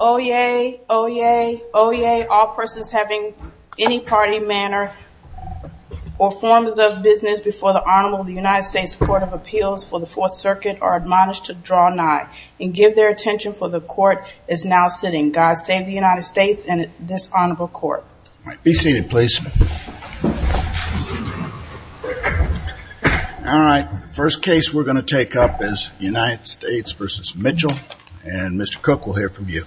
Oh yay, oh yay, oh yay, all persons having any party, manner, or forms of business before the Honorable United States Court of Appeals for the Fourth Circuit are admonished to draw nigh and give their attention for the court is now sitting. God save the United States and this Honorable Court. All right, be seated please. All right, first case we're going to take up is United States v. Mitchell and Mr. Cook will hear from you.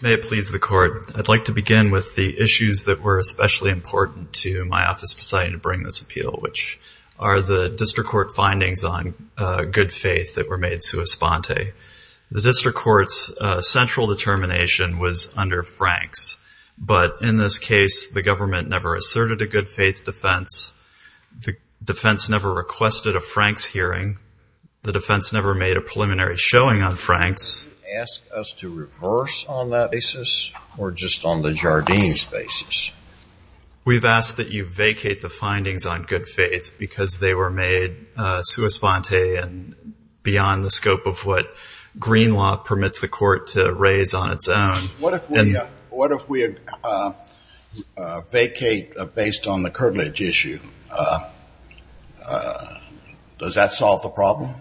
May it please the court, I'd like to begin with the issues that were especially important to my office deciding to bring this appeal, which are the district court findings on good faith that were made sua sponte. The district court's central determination was under Franks, but in this case the government never asserted a good faith defense. The defense never requested a Franks hearing. The defense never made a preliminary showing on Franks. Did you ask us to reverse on that basis or just on the Jardines basis? We've asked that you vacate the findings on good faith because they were made sua sponte and beyond the scope of what green law permits the court to raise on its own. What if we vacate based on the curtilage issue? Does that solve the problem?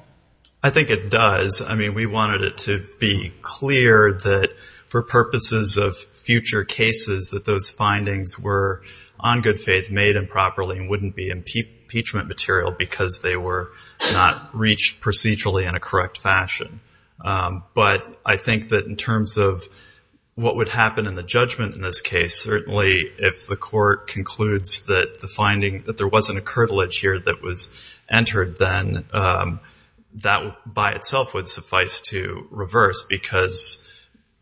I think it does. I mean, we wanted it to be clear that for purposes of future cases that those findings were on good faith made improperly and wouldn't be impeachment material because they were not reached procedurally in a correct fashion. But I think that in terms of what would happen in the judgment in this case, certainly if the court concludes that there wasn't a curtilage here that was entered, then that by itself would suffice to reverse because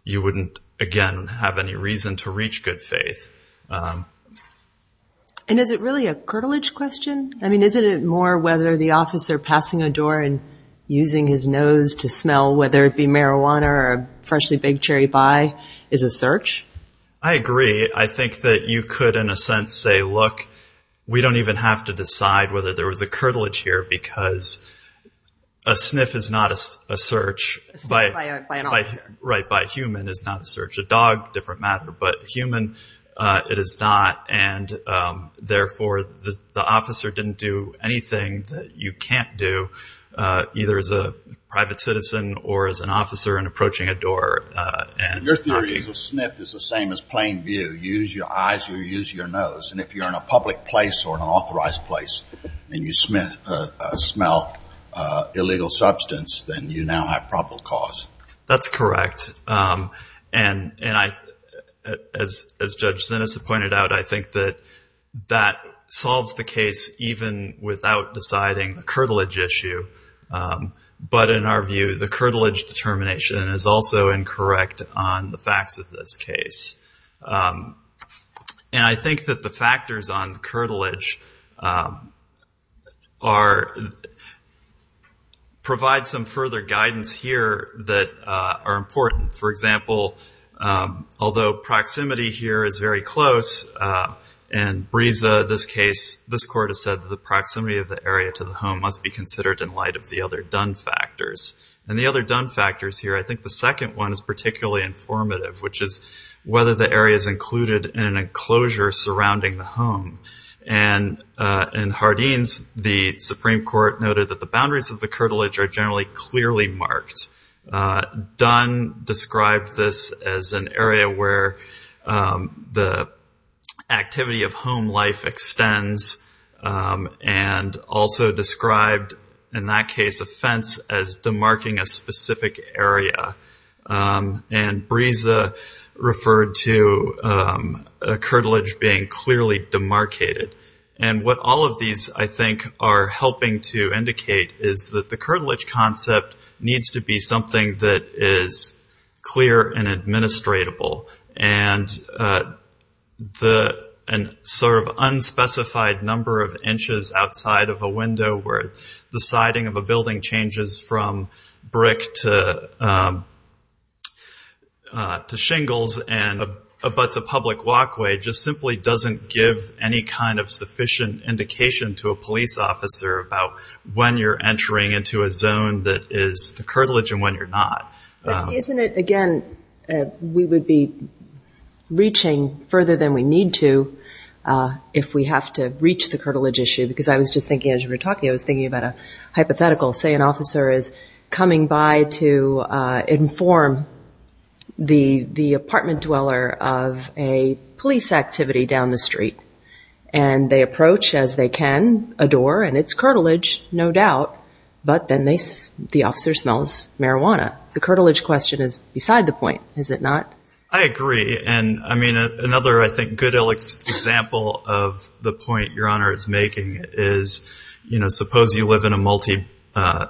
you wouldn't, again, have any reason to reach good faith. And is it really a curtilage question? I mean, isn't it more whether the officer passing a door and using his nose to smell whether it be marijuana or a freshly baked cherry pie is a search? I agree. I think that you could in a sense say, look, we don't even have to decide whether there was a curtilage here because a sniff is not a search. A sniff by an officer. It is not. And therefore, the officer didn't do anything that you can't do either as a private citizen or as an officer in approaching a door. Your theory is a sniff is the same as plain view. You use your eyes, you use your nose. And if you're in a public place or an authorized place and you smell illegal substance, then you now have probable cause. That's correct. And as Judge Zinnes had pointed out, I think that that solves the case even without deciding the curtilage issue. But in our view, the curtilage determination is also incorrect on the facts of this case. And I think that the factors on the curtilage provide some further guidance here that are important. For example, although proximity here is very close, and Brisa, this case, this court has said that the proximity of the area to the home must be considered in light of the other done factors. And the other done factors here, I think the second one is particularly informative, which is whether the area is included in an enclosure surrounding the home. And in Hardeen's, the Supreme Court noted that the boundaries of the curtilage are generally clearly marked. Dunn described this as an area where the activity of home life extends and also described in that case a fence as demarking a specific area. And Brisa referred to a curtilage being clearly demarcated. And what all of these, I think, are helping to indicate is that the curtilage concept needs to be something that is clear and administratable. And an unspecified number of inches outside of a window where the siding of a building changes from brick to shingles and abuts a public walkway, just simply doesn't give any kind of sufficient indication to a police officer about when you're entering into a zone that is the curtilage and when you're not. But isn't it, again, we would be reaching further than we need to if we have to reach the curtilage issue. Because I was just thinking as we were talking, I was thinking about a hypothetical. Say an officer is coming by to inform the apartment dweller of a police activity down the street. And they approach, as they can, a door, and it's curtilage, no doubt. But then the officer smells marijuana. The curtilage question is beside the point, is it not? I agree. And, I mean, another, I think, good example of the point Your Honor is making is, you know, suppose you live in a multi-unit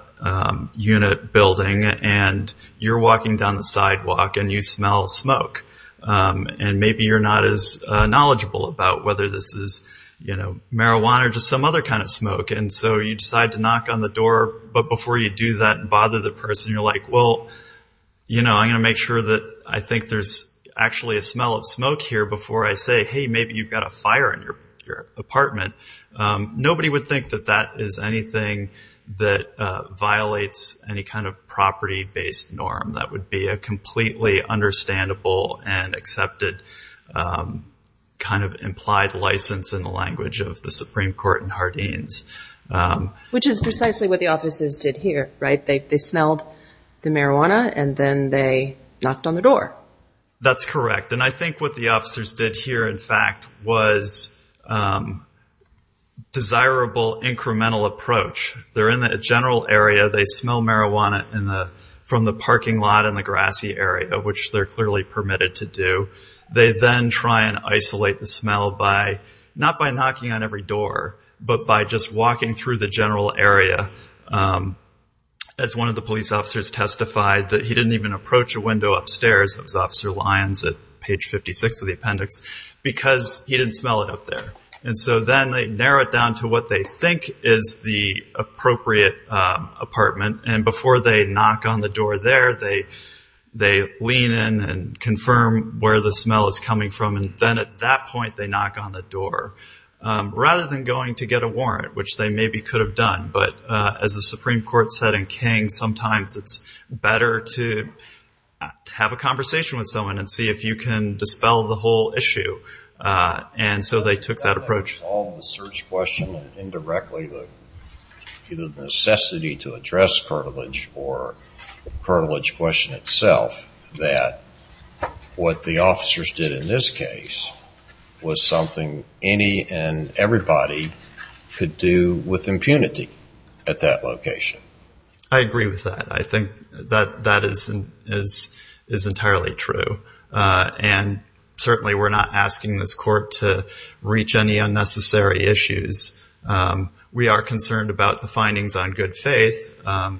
building and you're walking down the sidewalk and you smell smoke. And maybe you're not as knowledgeable about whether this is, you know, marijuana or just some other kind of smoke. And so you decide to knock on the door. But before you do that and bother the person, you're like, well, you know, I'm going to make sure that I think there's actually a smell of smoke here before I say, hey, maybe you've got a fire in your apartment. Nobody would think that that is anything that violates any kind of property-based norm. That would be a completely understandable and accepted kind of implied license in the language of the Supreme Court in Hardeen's. Which is precisely what the officers did here, right? They smelled the marijuana and then they knocked on the door. That's correct. And I think what the officers did here, in fact, was desirable incremental approach. They're in the general area, they smell marijuana from the parking lot in the grassy area, which they're clearly permitted to do. They then try and isolate the smell by, not by knocking on every door, but by just walking through the general area. As one of the police officers testified, that he didn't even approach a window upstairs, that was Officer Lyons at page 56 of the appendix, because he didn't smell it up there. And so then they narrow it down to what they think is the appropriate apartment. And before they knock on the door there, they lean in and confirm where the smell is coming from. And then at that point they knock on the door. Rather than going to get a warrant, which they maybe could have done, but as the Supreme Court said in King, sometimes it's better to have a conversation with someone and see if you can dispel the whole issue. And so they took that approach. Indirectly, the necessity to address cartilage or cartilage question itself, that what the officers did in this case was something any and everybody could do with impunity at that location. I agree with that. I think that that is entirely true. And certainly we're not asking this court to reach any unnecessary issues. We are concerned about the findings on good faith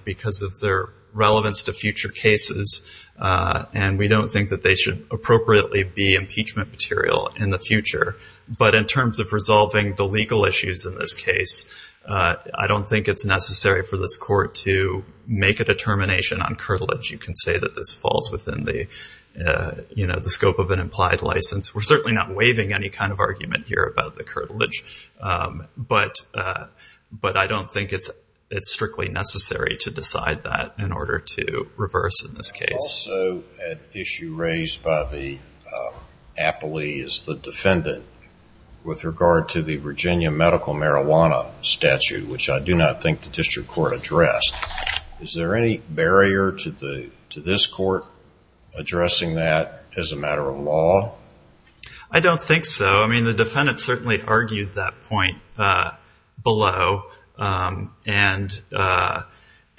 because of their relevance to future cases. And we don't think that they should appropriately be impeachment material in the future. But in terms of resolving the legal issues in this case, I don't think it's necessary for this court to make a determination on cartilage. You can say that this falls within the scope of an implied license. We're certainly not waiving any kind of argument here about the cartilage. But I don't think it's strictly necessary to decide that in order to reverse in this case. Also an issue raised by the appellee is the defendant with regard to the Virginia medical marijuana statute, which I do not think the district court addressed. Is there any barrier to this court addressing that as a matter of law? I don't think so. I mean, the defendant certainly argued that point below. And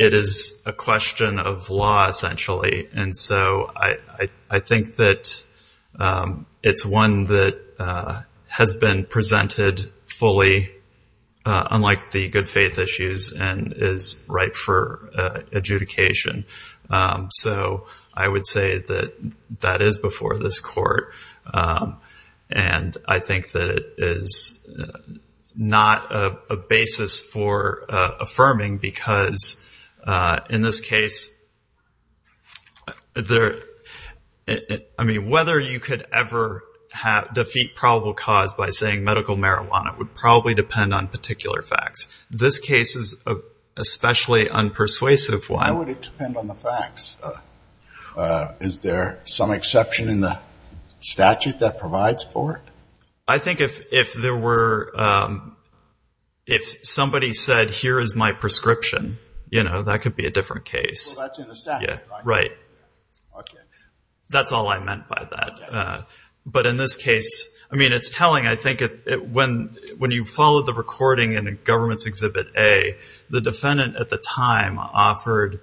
it is a question of law, essentially. And so I think that it's one that has been presented fully, unlike the good faith issues, and is ripe for adjudication. So I would say that that is before this court. And I think that it is not a basis for affirming, because in this case, it's a matter of law. I mean, whether you could ever defeat probable cause by saying medical marijuana would probably depend on particular facts. This case is especially unpersuasive. Why would it depend on the facts? Is there some exception in the statute that provides for it? I think if somebody said, here is my prescription, that could be a different case. That's all I meant by that. But in this case, I mean, it's telling. I think when you follow the recording in a government's Exhibit A, the defendant at the time offered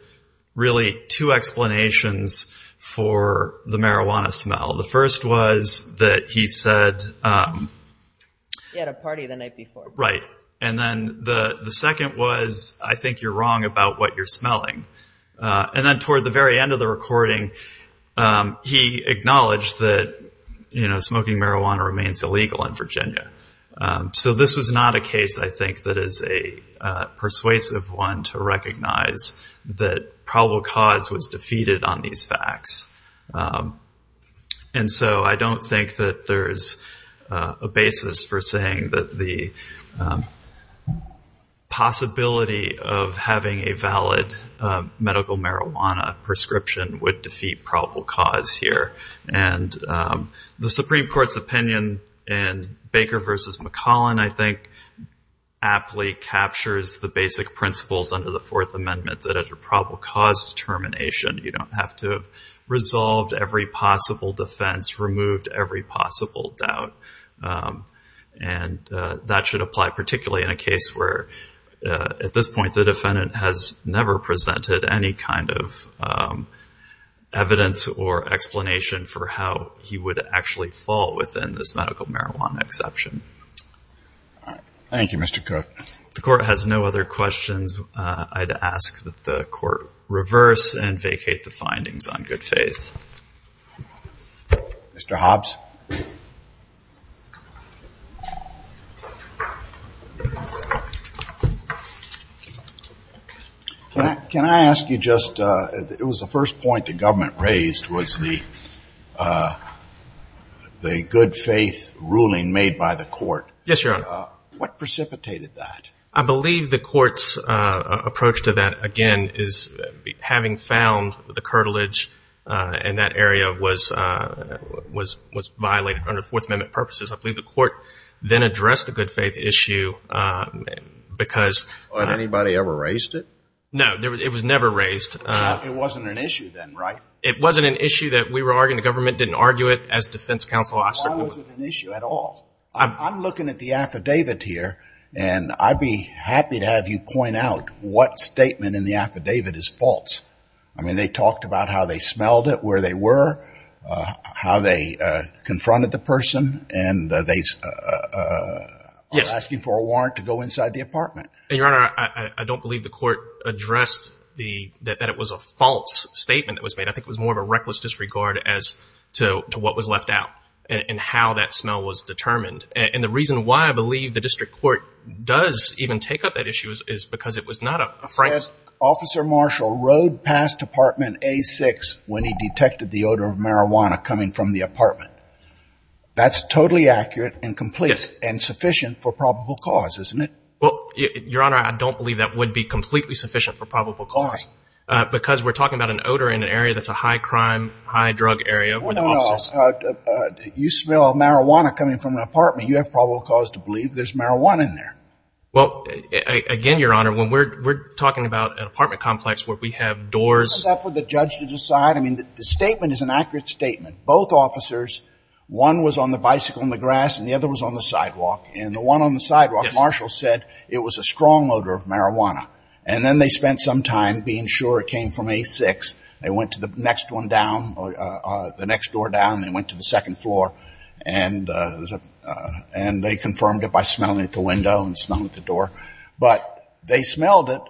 really two explanations for the marijuana smell. The first was that he said... And then toward the very end of the recording, he acknowledged that smoking marijuana remains illegal in Virginia. So this was not a case, I think, that is a persuasive one to recognize that probable cause was defeated on these facts. And so I don't think that there's a basis for saying that the possibility of having a valid medical marijuana prescription would defeat probable cause here. And the Supreme Court's opinion in Baker v. McClellan, I think, aptly captures the basic principles under the Fourth Amendment that under probable cause determination, you don't have to have resolved every possible defense, removed every possible doubt. And that should apply particularly in a case where, at this point, the defendant has never presented any evidence of or explanation for how he would actually fall within this medical marijuana exception. Thank you, Mr. Cook. If the Court has no other questions, I'd ask that the Court reverse and vacate the findings on good faith. Mr. Hobbs. Can I ask you just, it was the first point the government raised was the good faith ruling made by the Court. Yes, Your Honor. What precipitated that? I believe the Court's approach to that, again, is having found the curtilage in that area was violated under Fourth Amendment purposes. I believe the Court then addressed the good faith issue because... Had anybody ever raised it? No, it was never raised. I'm looking at the affidavit here, and I'd be happy to have you point out what statement in the affidavit is false. I mean, they talked about how they smelled it, where they were, how they confronted the person, and they are asking for a warrant to go inside the apartment. And, Your Honor, I don't believe the Court addressed that it was a false statement that was made. I think it was more of a reckless disregard as to what was left out and how that smell was determined. And the reason why I believe the District Court does even take up that issue is because it was not a... Officer Marshall rode past apartment A6 when he detected the odor of marijuana coming from the apartment. That's totally accurate and complete and sufficient for probable cause, isn't it? Well, Your Honor, I don't believe that would be completely sufficient for probable cause. Why? Because we're talking about an odor in an area that's a high-crime, high-drug area where the officers... Well, no. You smell marijuana coming from an apartment. You have probable cause to believe there's marijuana in there. Well, again, Your Honor, when we're talking about an apartment complex where we have doors... Is that for the judge to decide? I mean, the statement is an accurate statement. Both officers, one was on the bicycle in the grass and the other was on the sidewalk. And the one on the sidewalk, Marshall said it was a strong odor of marijuana. And then they spent some time being sure it came from A6. They went to the next one down, the next door down, and they went to the second floor. And they confirmed it by smelling it at the window and smelling it at the door. But they smelled it,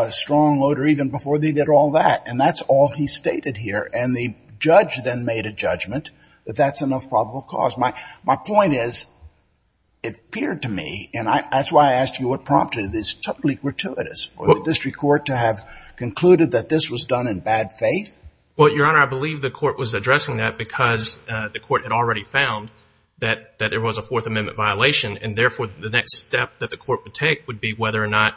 a strong odor, even before they did all that. And that's all he stated here. And the judge then made a judgment that that's enough probable cause. My point is it appeared to me, and that's why I asked you what prompted it. It's totally gratuitous for the district court to have concluded that this was done in bad faith. Well, Your Honor, I believe the court was addressing that because the court had already found that there was a Fourth Amendment violation. And, therefore, the next step that the court would take would be whether or not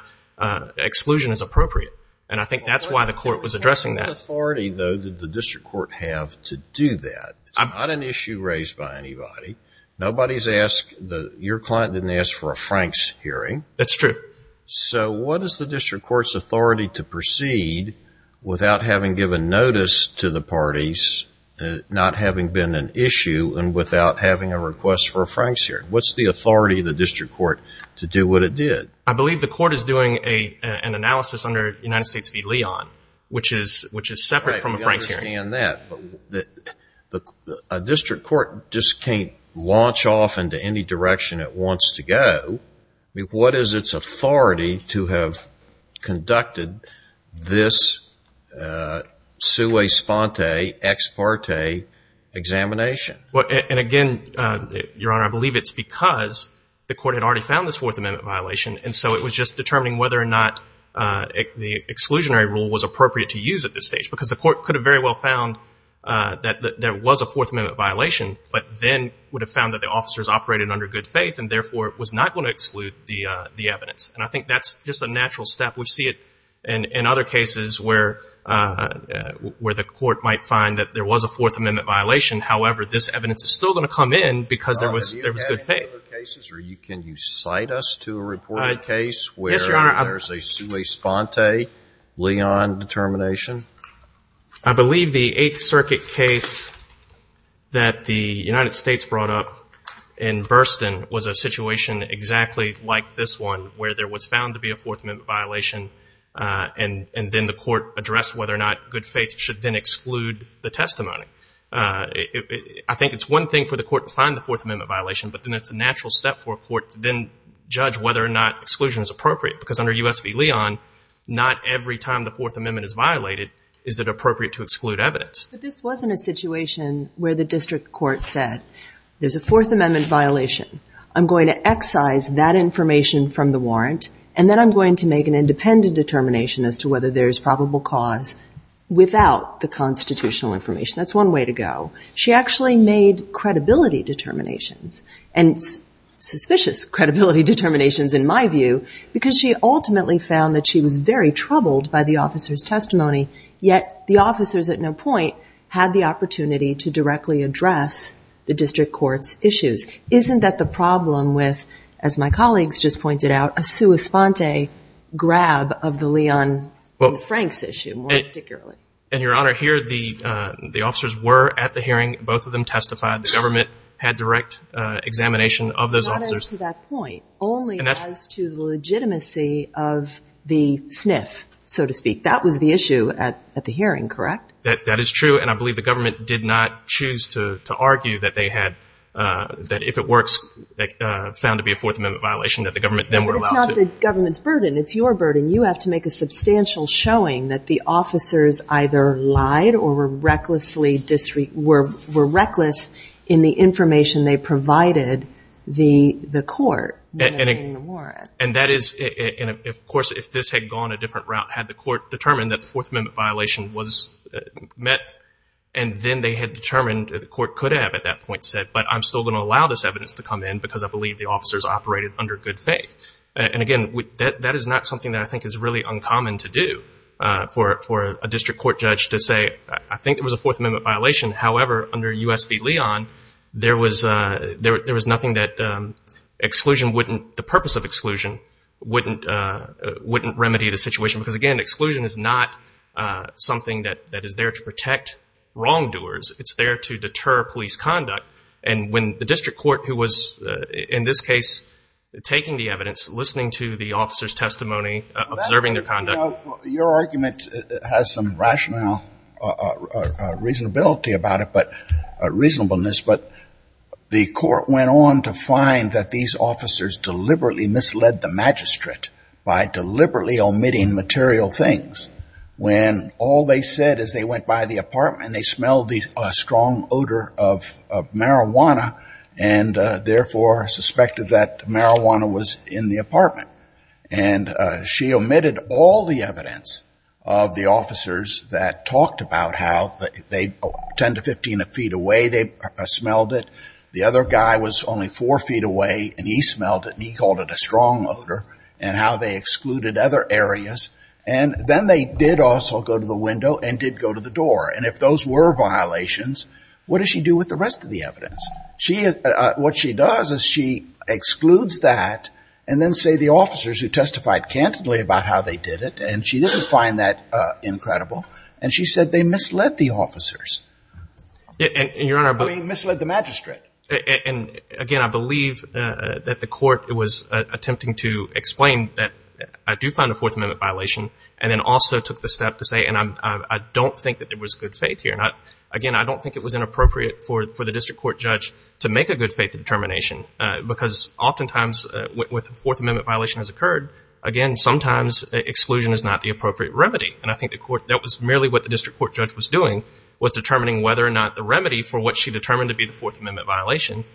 exclusion is appropriate. And I think that's why the court was addressing that. What authority, though, did the district court have to do that? It's not an issue raised by anybody. Nobody's asked. Your client didn't ask for a Franks hearing. That's true. So what is the district court's authority to proceed without having given notice to the parties, not having been an issue, and without having a request for a Franks hearing? What's the authority of the district court to do what it did? I believe the court is doing an analysis under United States v. Leon, which is separate from a Franks hearing. I understand that. But a district court just can't launch off into any direction it wants to go. What is its authority to have conducted this sua sponte, ex parte examination? And, again, Your Honor, I believe it's because the court had already found this Fourth Amendment violation. And so it was just determining whether or not the exclusionary rule was appropriate to use at this stage, because the court could have very well found that there was a Fourth Amendment violation, but then would have found that the officers operated under good faith and, therefore, was not going to exclude the evidence. And I think that's just a natural step. We see it in other cases where the court might find that there was a Fourth Amendment violation. However, this evidence is still going to come in because there was good faith. Have you had any other cases? Or can you cite us to a reported case where there's a sua sponte Leon determination? I believe the Eighth Circuit case that the United States brought up in Burstyn was a situation exactly like this one, where there was found to be a Fourth Amendment violation, and then the court addressed whether or not good faith should then exclude the testimony. I think it's one thing for the court to find the Fourth Amendment violation, but then it's a natural step for a court to then judge whether or not exclusion is appropriate, because under U.S. v. Leon, not every time the Fourth Amendment is violated is it appropriate to exclude evidence. But this wasn't a situation where the district court said, there's a Fourth Amendment violation. I'm going to excise that information from the warrant, and then I'm going to make an independent determination as to whether there is probable cause without the constitutional information. That's one way to go. She actually made credibility determinations and suspicious credibility determinations, in my view, because she ultimately found that she was very troubled by the officer's testimony, yet the officers at no point had the opportunity to directly address the district court's issues. Isn't that the problem with, as my colleagues just pointed out, a sua sponte grab of the Leon and Franks issue, more particularly? And, Your Honor, here the officers were at the hearing. Both of them testified. The government had direct examination of those officers. Only as to the legitimacy of the sniff, so to speak. That was the issue at the hearing, correct? That is true, and I believe the government did not choose to argue that they had, that if it works, found to be a Fourth Amendment violation, that the government then would allow it. But it's not the government's burden. It's your burden. You have to make a substantial showing that the officers either lied or were reckless in the information they provided the court when they're paying the warrant. And that is, of course, if this had gone a different route, had the court determined that the Fourth Amendment violation was met, and then they had determined that the court could have at that point said, but I'm still going to allow this evidence to come in because I believe the officers operated under good faith. And, again, that is not something that I think is really uncommon to do for a district court judge to say, I think it was a Fourth Amendment violation. However, under U.S. v. Leon, there was nothing that exclusion wouldn't, the purpose of exclusion wouldn't remedy the situation. Because, again, exclusion is not something that is there to protect wrongdoers. It's there to deter police conduct. And when the district court who was, in this case, taking the evidence, listening to the officers' testimony, observing their conduct. You know, your argument has some rationale, reasonability about it, but, reasonableness. But the court went on to find that these officers deliberately misled the magistrate by deliberately omitting material things. When all they said is they went by the apartment and they smelled the strong odor of marijuana and, therefore, suspected that marijuana was in the apartment. And she omitted all the evidence of the officers that talked about how they, 10 to 15 feet away, they smelled it. The other guy was only four feet away and he smelled it and he called it a strong odor. And how they excluded other areas. And then they did also go to the window and did go to the door. And if those were violations, what does she do with the rest of the evidence? What she does is she excludes that and then say the officers who testified candidly about how they did it. And she didn't find that incredible. And she said they misled the officers. They misled the magistrate. And, again, I believe that the court was attempting to explain that I do find a Fourth Amendment violation. And then also took the step to say, and I don't think that there was good faith here. Again, I don't think it was inappropriate for the district court judge to make a good faith determination because oftentimes when a Fourth Amendment violation has occurred, again, sometimes exclusion is not the appropriate remedy. And I think that was merely what the district court judge was doing, was determining whether or not the remedy for what she determined to be the Fourth Amendment violation,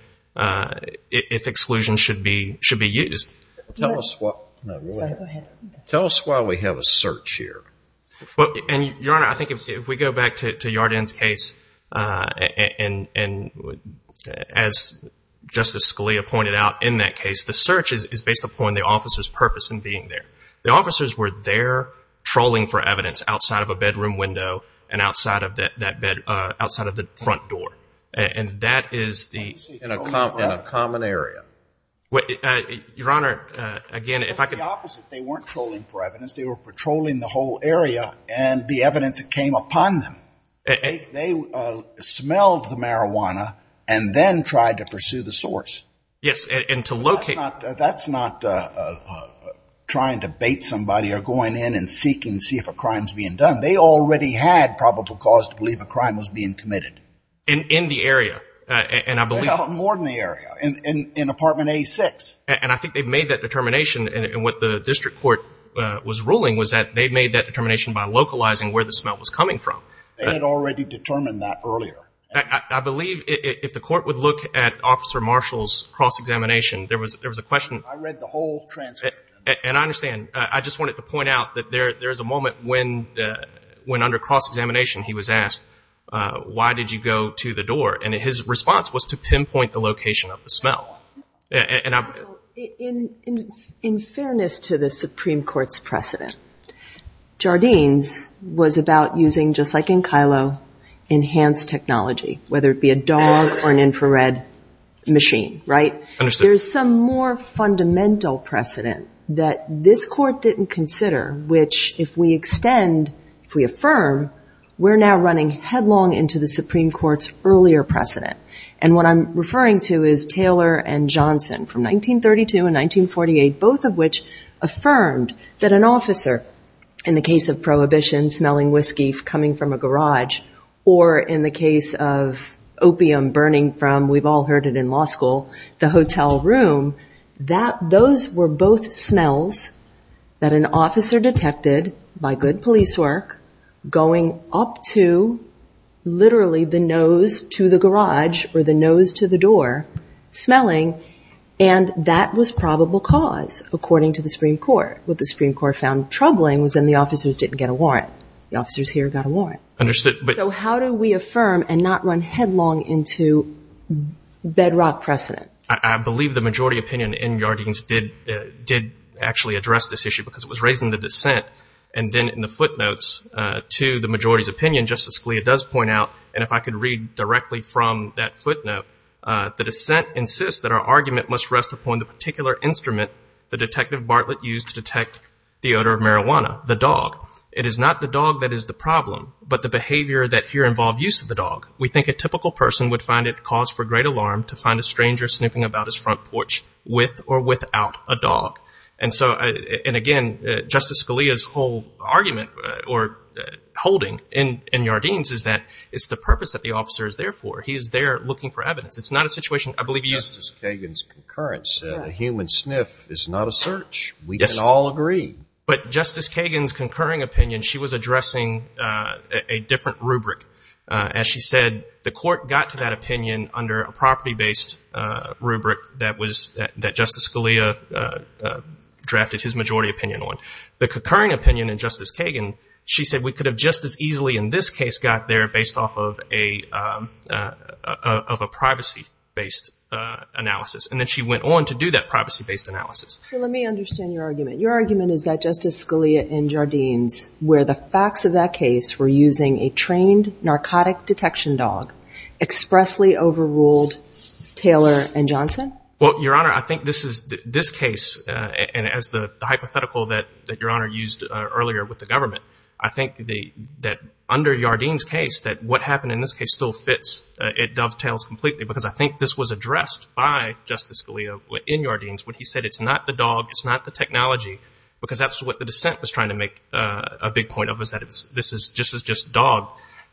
if exclusion should be used. Tell us why we have a search here. Well, Your Honor, I think if we go back to Yarden's case, and as Justice Scalia pointed out in that case, the search is based upon the officer's purpose in being there. The officers were there trolling for evidence outside of a bedroom window and outside of the front door. And that is the – In a common area. Your Honor, again, if I could – It's the opposite. They weren't trolling for evidence. They were patrolling the whole area and the evidence that came upon them. They smelled the marijuana and then tried to pursue the source. Yes, and to locate – That's not trying to bait somebody or going in and seeking to see if a crime is being done. They already had probable cause to believe a crime was being committed. In the area, and I believe – More than the area, in apartment A6. And I think they made that determination, and what the district court was ruling was that they made that determination by localizing where the smell was coming from. They had already determined that earlier. I believe if the court would look at Officer Marshall's cross-examination, there was a question – I read the whole transcript. And I understand. I just wanted to point out that there is a moment when, under cross-examination, he was asked, why did you go to the door? And his response was to pinpoint the location of the smell. In fairness to the Supreme Court's precedent, Jardines was about using, just like in Kilo, enhanced technology, whether it be a dog or an infrared machine, right? There's some more fundamental precedent that this court didn't consider, which, if we extend, if we affirm, we're now running headlong into the Supreme Court's earlier precedent. And what I'm referring to is Taylor and Johnson from 1932 and 1948, both of which affirmed that an officer, in the case of prohibition, smelling whiskey coming from a garage, or in the case of opium burning from, we've all heard it in law school, the hotel room, that those were both smells that an officer detected, by good police work, going up to, literally, the nose to the garage, or the nose to the door, smelling. And that was probable cause, according to the Supreme Court. What the Supreme Court found troubling was then the officers didn't get a warrant. The officers here got a warrant. So how do we affirm and not run headlong into bedrock precedent? I believe the majority opinion in Jardines did actually address this issue, because it was raised in the dissent and then in the footnotes to the majority's opinion, just as Scalia does point out. And if I could read directly from that footnote, the dissent insists that our argument must rest upon the particular instrument the Detective Bartlett used to detect the odor of marijuana, the dog. It is not the dog that is the problem, but the behavior that here involved use of the dog. We think a typical person would find it cause for great alarm to find a stranger snooping about his front porch with or without a dog. And again, Justice Scalia's whole argument or holding in Jardines is that it's the purpose that the officer is there for. He is there looking for evidence. It's not a situation I believe he used. Justice Kagan's concurrence that a human sniff is not a search, we can all agree. But Justice Kagan's concurring opinion, she was addressing a different rubric. As she said, the court got to that opinion under a property-based rubric that Justice Scalia drafted his majority opinion on. The concurring opinion in Justice Kagan, she said we could have just as easily in this case got there based off of a privacy-based analysis. And then she went on to do that privacy-based analysis. So let me understand your argument. Your argument is that Justice Scalia in Jardines, where the facts of that case were using a trained narcotic detection dog, expressly overruled Taylor and Johnson? Well, Your Honor, I think this case, and as the hypothetical that Your Honor used earlier with the government, I think that under Jardines' case that what happened in this case still fits. It dovetails completely because I think this was addressed by Justice Scalia in Jardines when he said it's not the dog, it's not the technology. Because that's what the dissent was trying to make a big point of was that this is just dog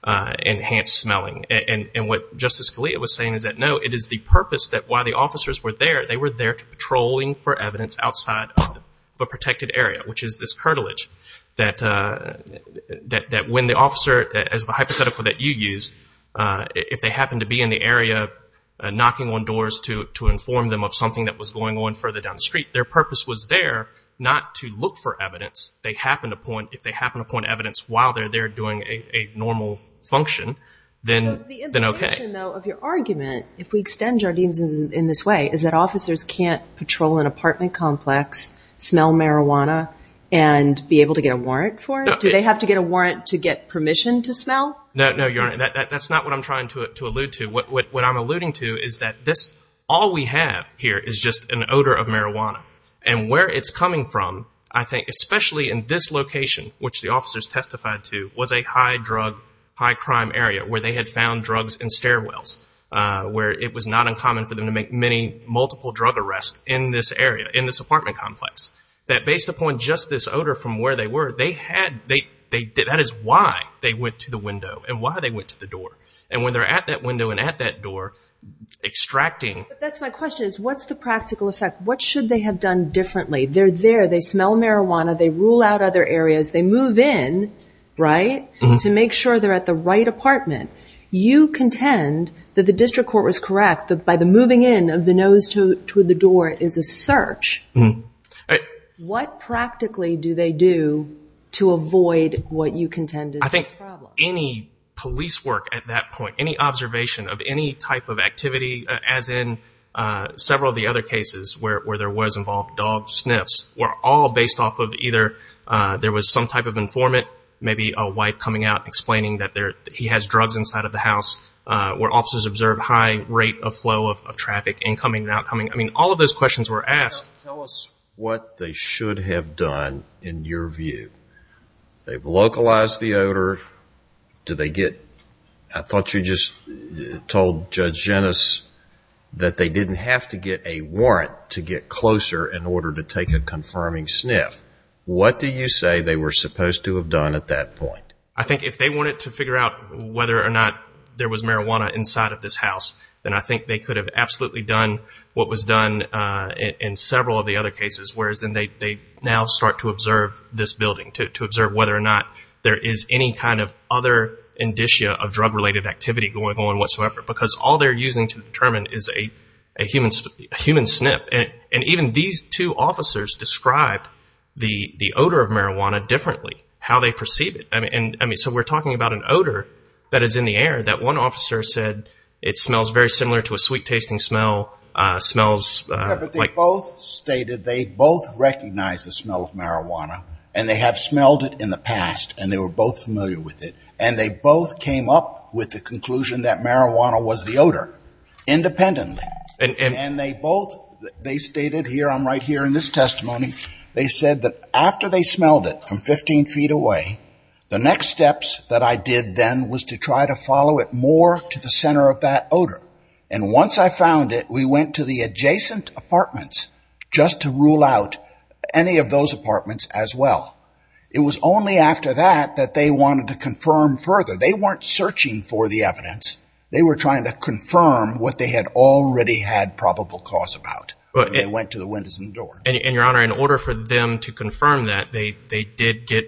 enhanced smelling. And what Justice Scalia was saying is that, no, it is the purpose that while the officers were there, they were there patrolling for evidence outside of a protected area, which is this curtilage. That when the officer, as the hypothetical that you used, if they happened to be in the area knocking on doors to inform them of something that was going on further down the street, their purpose was there not to look for evidence. They happened upon, if they happened upon evidence while they're there doing a normal function, then okay. So the implication, though, of your argument, if we extend Jardines in this way, is that officers can't patrol an apartment complex, smell marijuana, and be able to get a warrant for it? Do they have to get a warrant to get permission to smell? No, Your Honor. That's not what I'm trying to allude to. What I'm alluding to is that all we have here is just an odor of marijuana. And where it's coming from, I think, especially in this location, which the officers testified to, was a high-drug, high-crime area where they had found drugs in stairwells, where it was not uncommon for them to make many multiple drug arrests in this area, in this apartment complex. That based upon just this odor from where they were, that is why they went to the window and why they went to the door. And when they're at that window and at that door extracting... But that's my question, is what's the practical effect? What should they have done differently? They're there, they smell marijuana, they rule out other areas, they move in, right, to make sure they're at the right apartment. You contend that the district court was correct that by the moving in of the nose toward the door is a search. What practically do they do to avoid what you contend is the problem? I think any police work at that point, any observation of any type of activity, as in several of the other cases where there was involved dog sniffs, were all based off of either there was some type of informant, maybe a wife coming out and explaining that he has drugs inside of the house, where officers observed high rate of flow of traffic, incoming and outcoming. I mean, all of those questions were asked. Tell us what they should have done in your view. They've localized the odor. I thought you just told Judge Genis that they didn't have to get a warrant to get closer in order to take a confirming sniff. What do you say they were supposed to have done at that point? I think if they wanted to figure out whether or not there was marijuana inside of this house, then I think they could have absolutely done what was done in several of the other cases, whereas they now start to observe this building, to observe whether or not there is any kind of other indicia of drug-related activity going on whatsoever, because all they're using to determine is a human sniff. And even these two officers described the odor of marijuana differently, how they perceive it. So we're talking about an odor that is in the air that one officer said it smells very similar to a sweet-tasting smell. They both stated they both recognized the smell of marijuana, and they have smelled it in the past, and they were both familiar with it, and they both came up with the conclusion that marijuana was the odor independently. And they both stated here, I'm right here in this testimony, they said that after they smelled it from 15 feet away, the next steps that I did then was to try to follow it more to the center of that odor. And once I found it, we went to the adjacent apartments just to rule out any of those apartments as well. It was only after that that they wanted to confirm further. They weren't searching for the evidence. They were trying to confirm what they had already had probable cause about. They went to the windows and doors. And, Your Honor, in order for them to confirm that, they did get...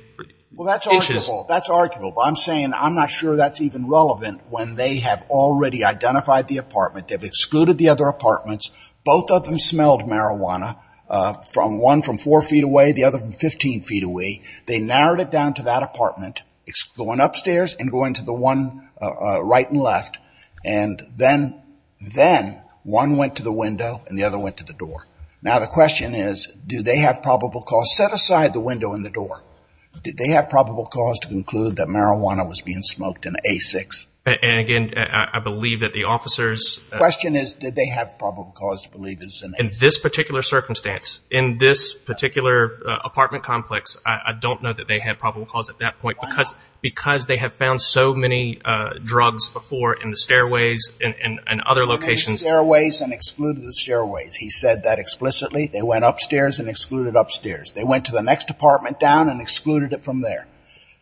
Well, that's arguable. That's arguable. But I'm saying I'm not sure that's even relevant when they have already identified the apartment. They've excluded the other apartments. Both of them smelled marijuana, one from four feet away, the other from 15 feet away. They narrowed it down to that apartment, going upstairs and going to the one right and left. And then one went to the window and the other went to the door. Now the question is, do they have probable cause? Set aside the window and the door. Did they have probable cause to conclude that marijuana was being smoked in A6? And, again, I believe that the officers... The question is, did they have probable cause to believe it was in A6? In this particular circumstance, in this particular apartment complex, I don't know that they had probable cause at that point. Why not? Because they have found so many drugs before in the stairways and other locations. They went in the stairways and excluded the stairways. He said that explicitly. They went upstairs and excluded upstairs. They went to the next apartment down and excluded it from there.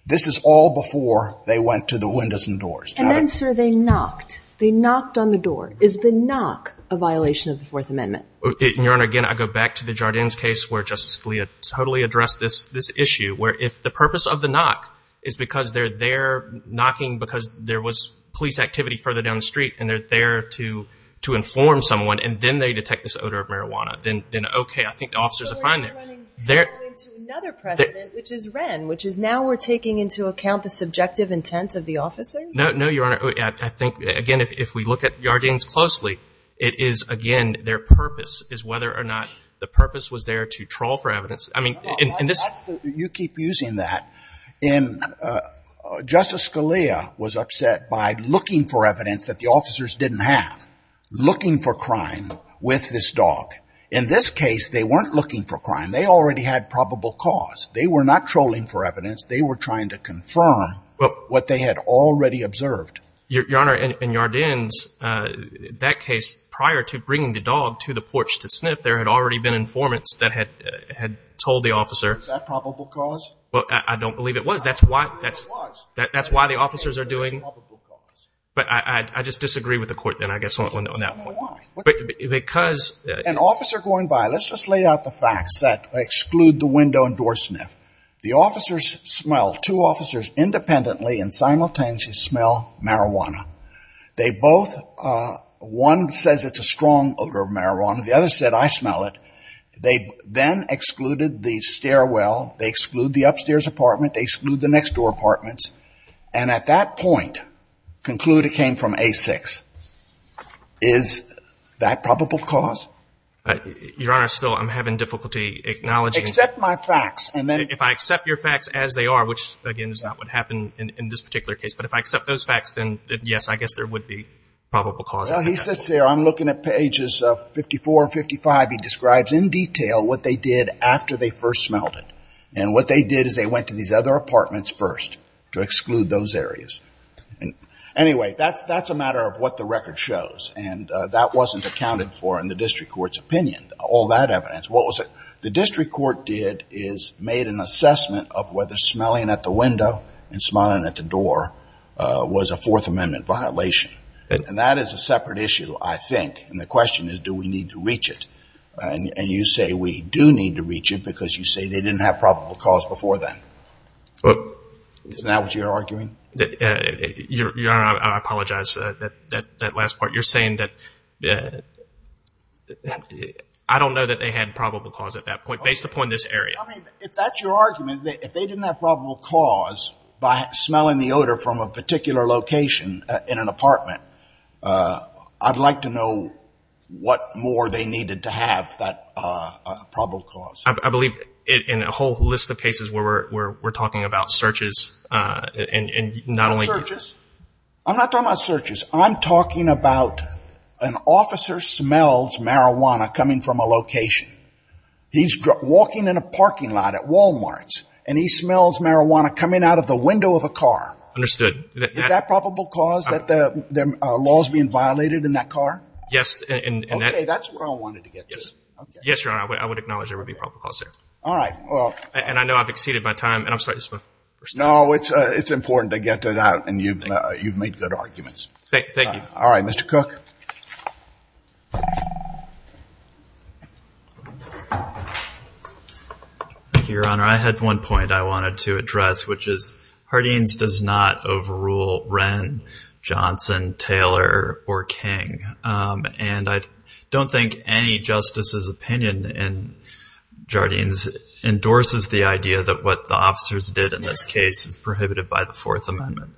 This is all before they went to the windows and doors. And then, sir, they knocked. They knocked on the door. Is the knock a violation of the Fourth Amendment? Your Honor, again, I go back to the Jardins case where Justice Scalia totally addressed this issue, where if the purpose of the knock is because they're there knocking because there was police activity further down the street and they're there to inform someone and then they detect this odor of marijuana, then okay, I think the officers are fine there. Are you running into another precedent, which is Wren, which is now we're taking into account the subjective intent of the officers? No, Your Honor. I think, again, if we look at Jardins closely, it is, again, their purpose is whether or not the purpose was there to troll for evidence. I mean, in this — You keep using that. Justice Scalia was upset by looking for evidence that the officers didn't have, In this case, they weren't looking for crime. They already had probable cause. They were not trolling for evidence. They were trying to confirm what they had already observed. Your Honor, in Jardins, that case, prior to bringing the dog to the porch to sniff, there had already been informants that had told the officer — Was that probable cause? I don't believe it was. That's why the officers are doing — But I just disagree with the court then, I guess, on that point. Because — An officer going by — let's just lay out the facts that exclude the window and door sniff. The officers smell — two officers independently and simultaneously smell marijuana. They both — one says it's a strong odor of marijuana. The other said, I smell it. They then excluded the stairwell. They exclude the upstairs apartment. They exclude the next-door apartments. And at that point, conclude it came from A6. Is that probable cause? Your Honor, still, I'm having difficulty acknowledging — Accept my facts, and then — If I accept your facts as they are, which, again, is not what happened in this particular case, but if I accept those facts, then, yes, I guess there would be probable cause. Well, he says here, I'm looking at pages 54 and 55. He describes in detail what they did after they first smelled it. And what they did is they went to these other apartments first to exclude those areas. Anyway, that's a matter of what the record shows. And that wasn't accounted for in the district court's opinion, all that evidence. What was it the district court did is made an assessment of whether smelling at the window and smelling at the door was a Fourth Amendment violation. And that is a separate issue, I think. And the question is, do we need to reach it? And you say we do need to reach it because you say they didn't have probable cause before then. Isn't that what you're arguing? Your Honor, I apologize. That last part, you're saying that — I don't know that they had probable cause at that point, based upon this area. I mean, if that's your argument, if they didn't have probable cause by smelling the odor from a particular location in an apartment, I'd like to know what more they needed to have that probable cause. I believe in a whole list of cases where we're talking about searches and not only — Not searches. I'm not talking about searches. I'm talking about an officer smells marijuana coming from a location. He's walking in a parking lot at Walmart, and he smells marijuana coming out of the window of a car. Understood. Is that probable cause, that the law is being violated in that car? Yes. Okay. That's where I wanted to get to. Yes, Your Honor. I would acknowledge there would be probable cause there. All right. And I know I've exceeded my time, and I'm sorry. No, it's important to get to that, and you've made good arguments. Thank you. All right. Mr. Cook. Thank you, Your Honor. I had one point I wanted to address, which is Hardeen's does not overrule Wren, Johnson, Taylor, or King. And I don't think any justice's opinion in Jardine's endorses the idea that what the officers did in this case is prohibited by the Fourth Amendment.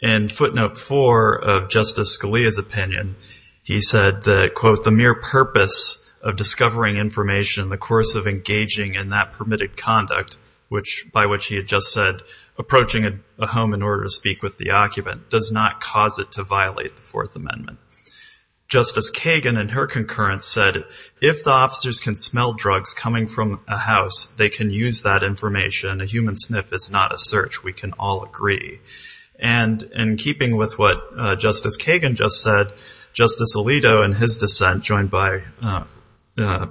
In footnote four of Justice Scalia's opinion, he said that, quote, the mere purpose of discovering information in the course of engaging in that permitted conduct, by which he had just said approaching a home in order to speak with the occupant, does not cause it to violate the Fourth Amendment. Justice Kagan, in her concurrence, said if the officers can smell drugs coming from a house, they can use that information. A human sniff is not a search. We can all agree. And in keeping with what Justice Kagan just said, Justice Alito, in his dissent, joined by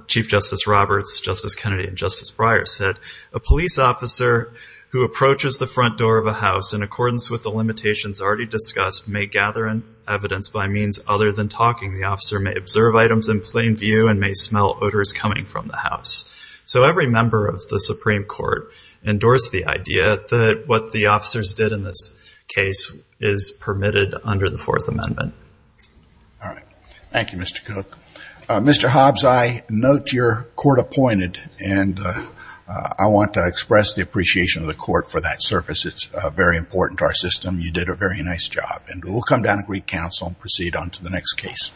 Chief Justice Roberts, Justice Kennedy, and Justice Breyer said, a police officer who approaches the front door of a house in accordance with the limitations already discussed may gather evidence by means other than talking. The officer may observe items in plain view and may smell odors coming from the house. So every member of the Supreme Court endorsed the idea that what the officers did in this case is permitted under the Fourth Amendment. All right. Thank you, Mr. Cook. Mr. Hobbs, I note your court appointed, and I want to express the appreciation of the court for that service. It's very important to our system. You did a very nice job. And we'll come down to Greek Council and proceed on to the next case.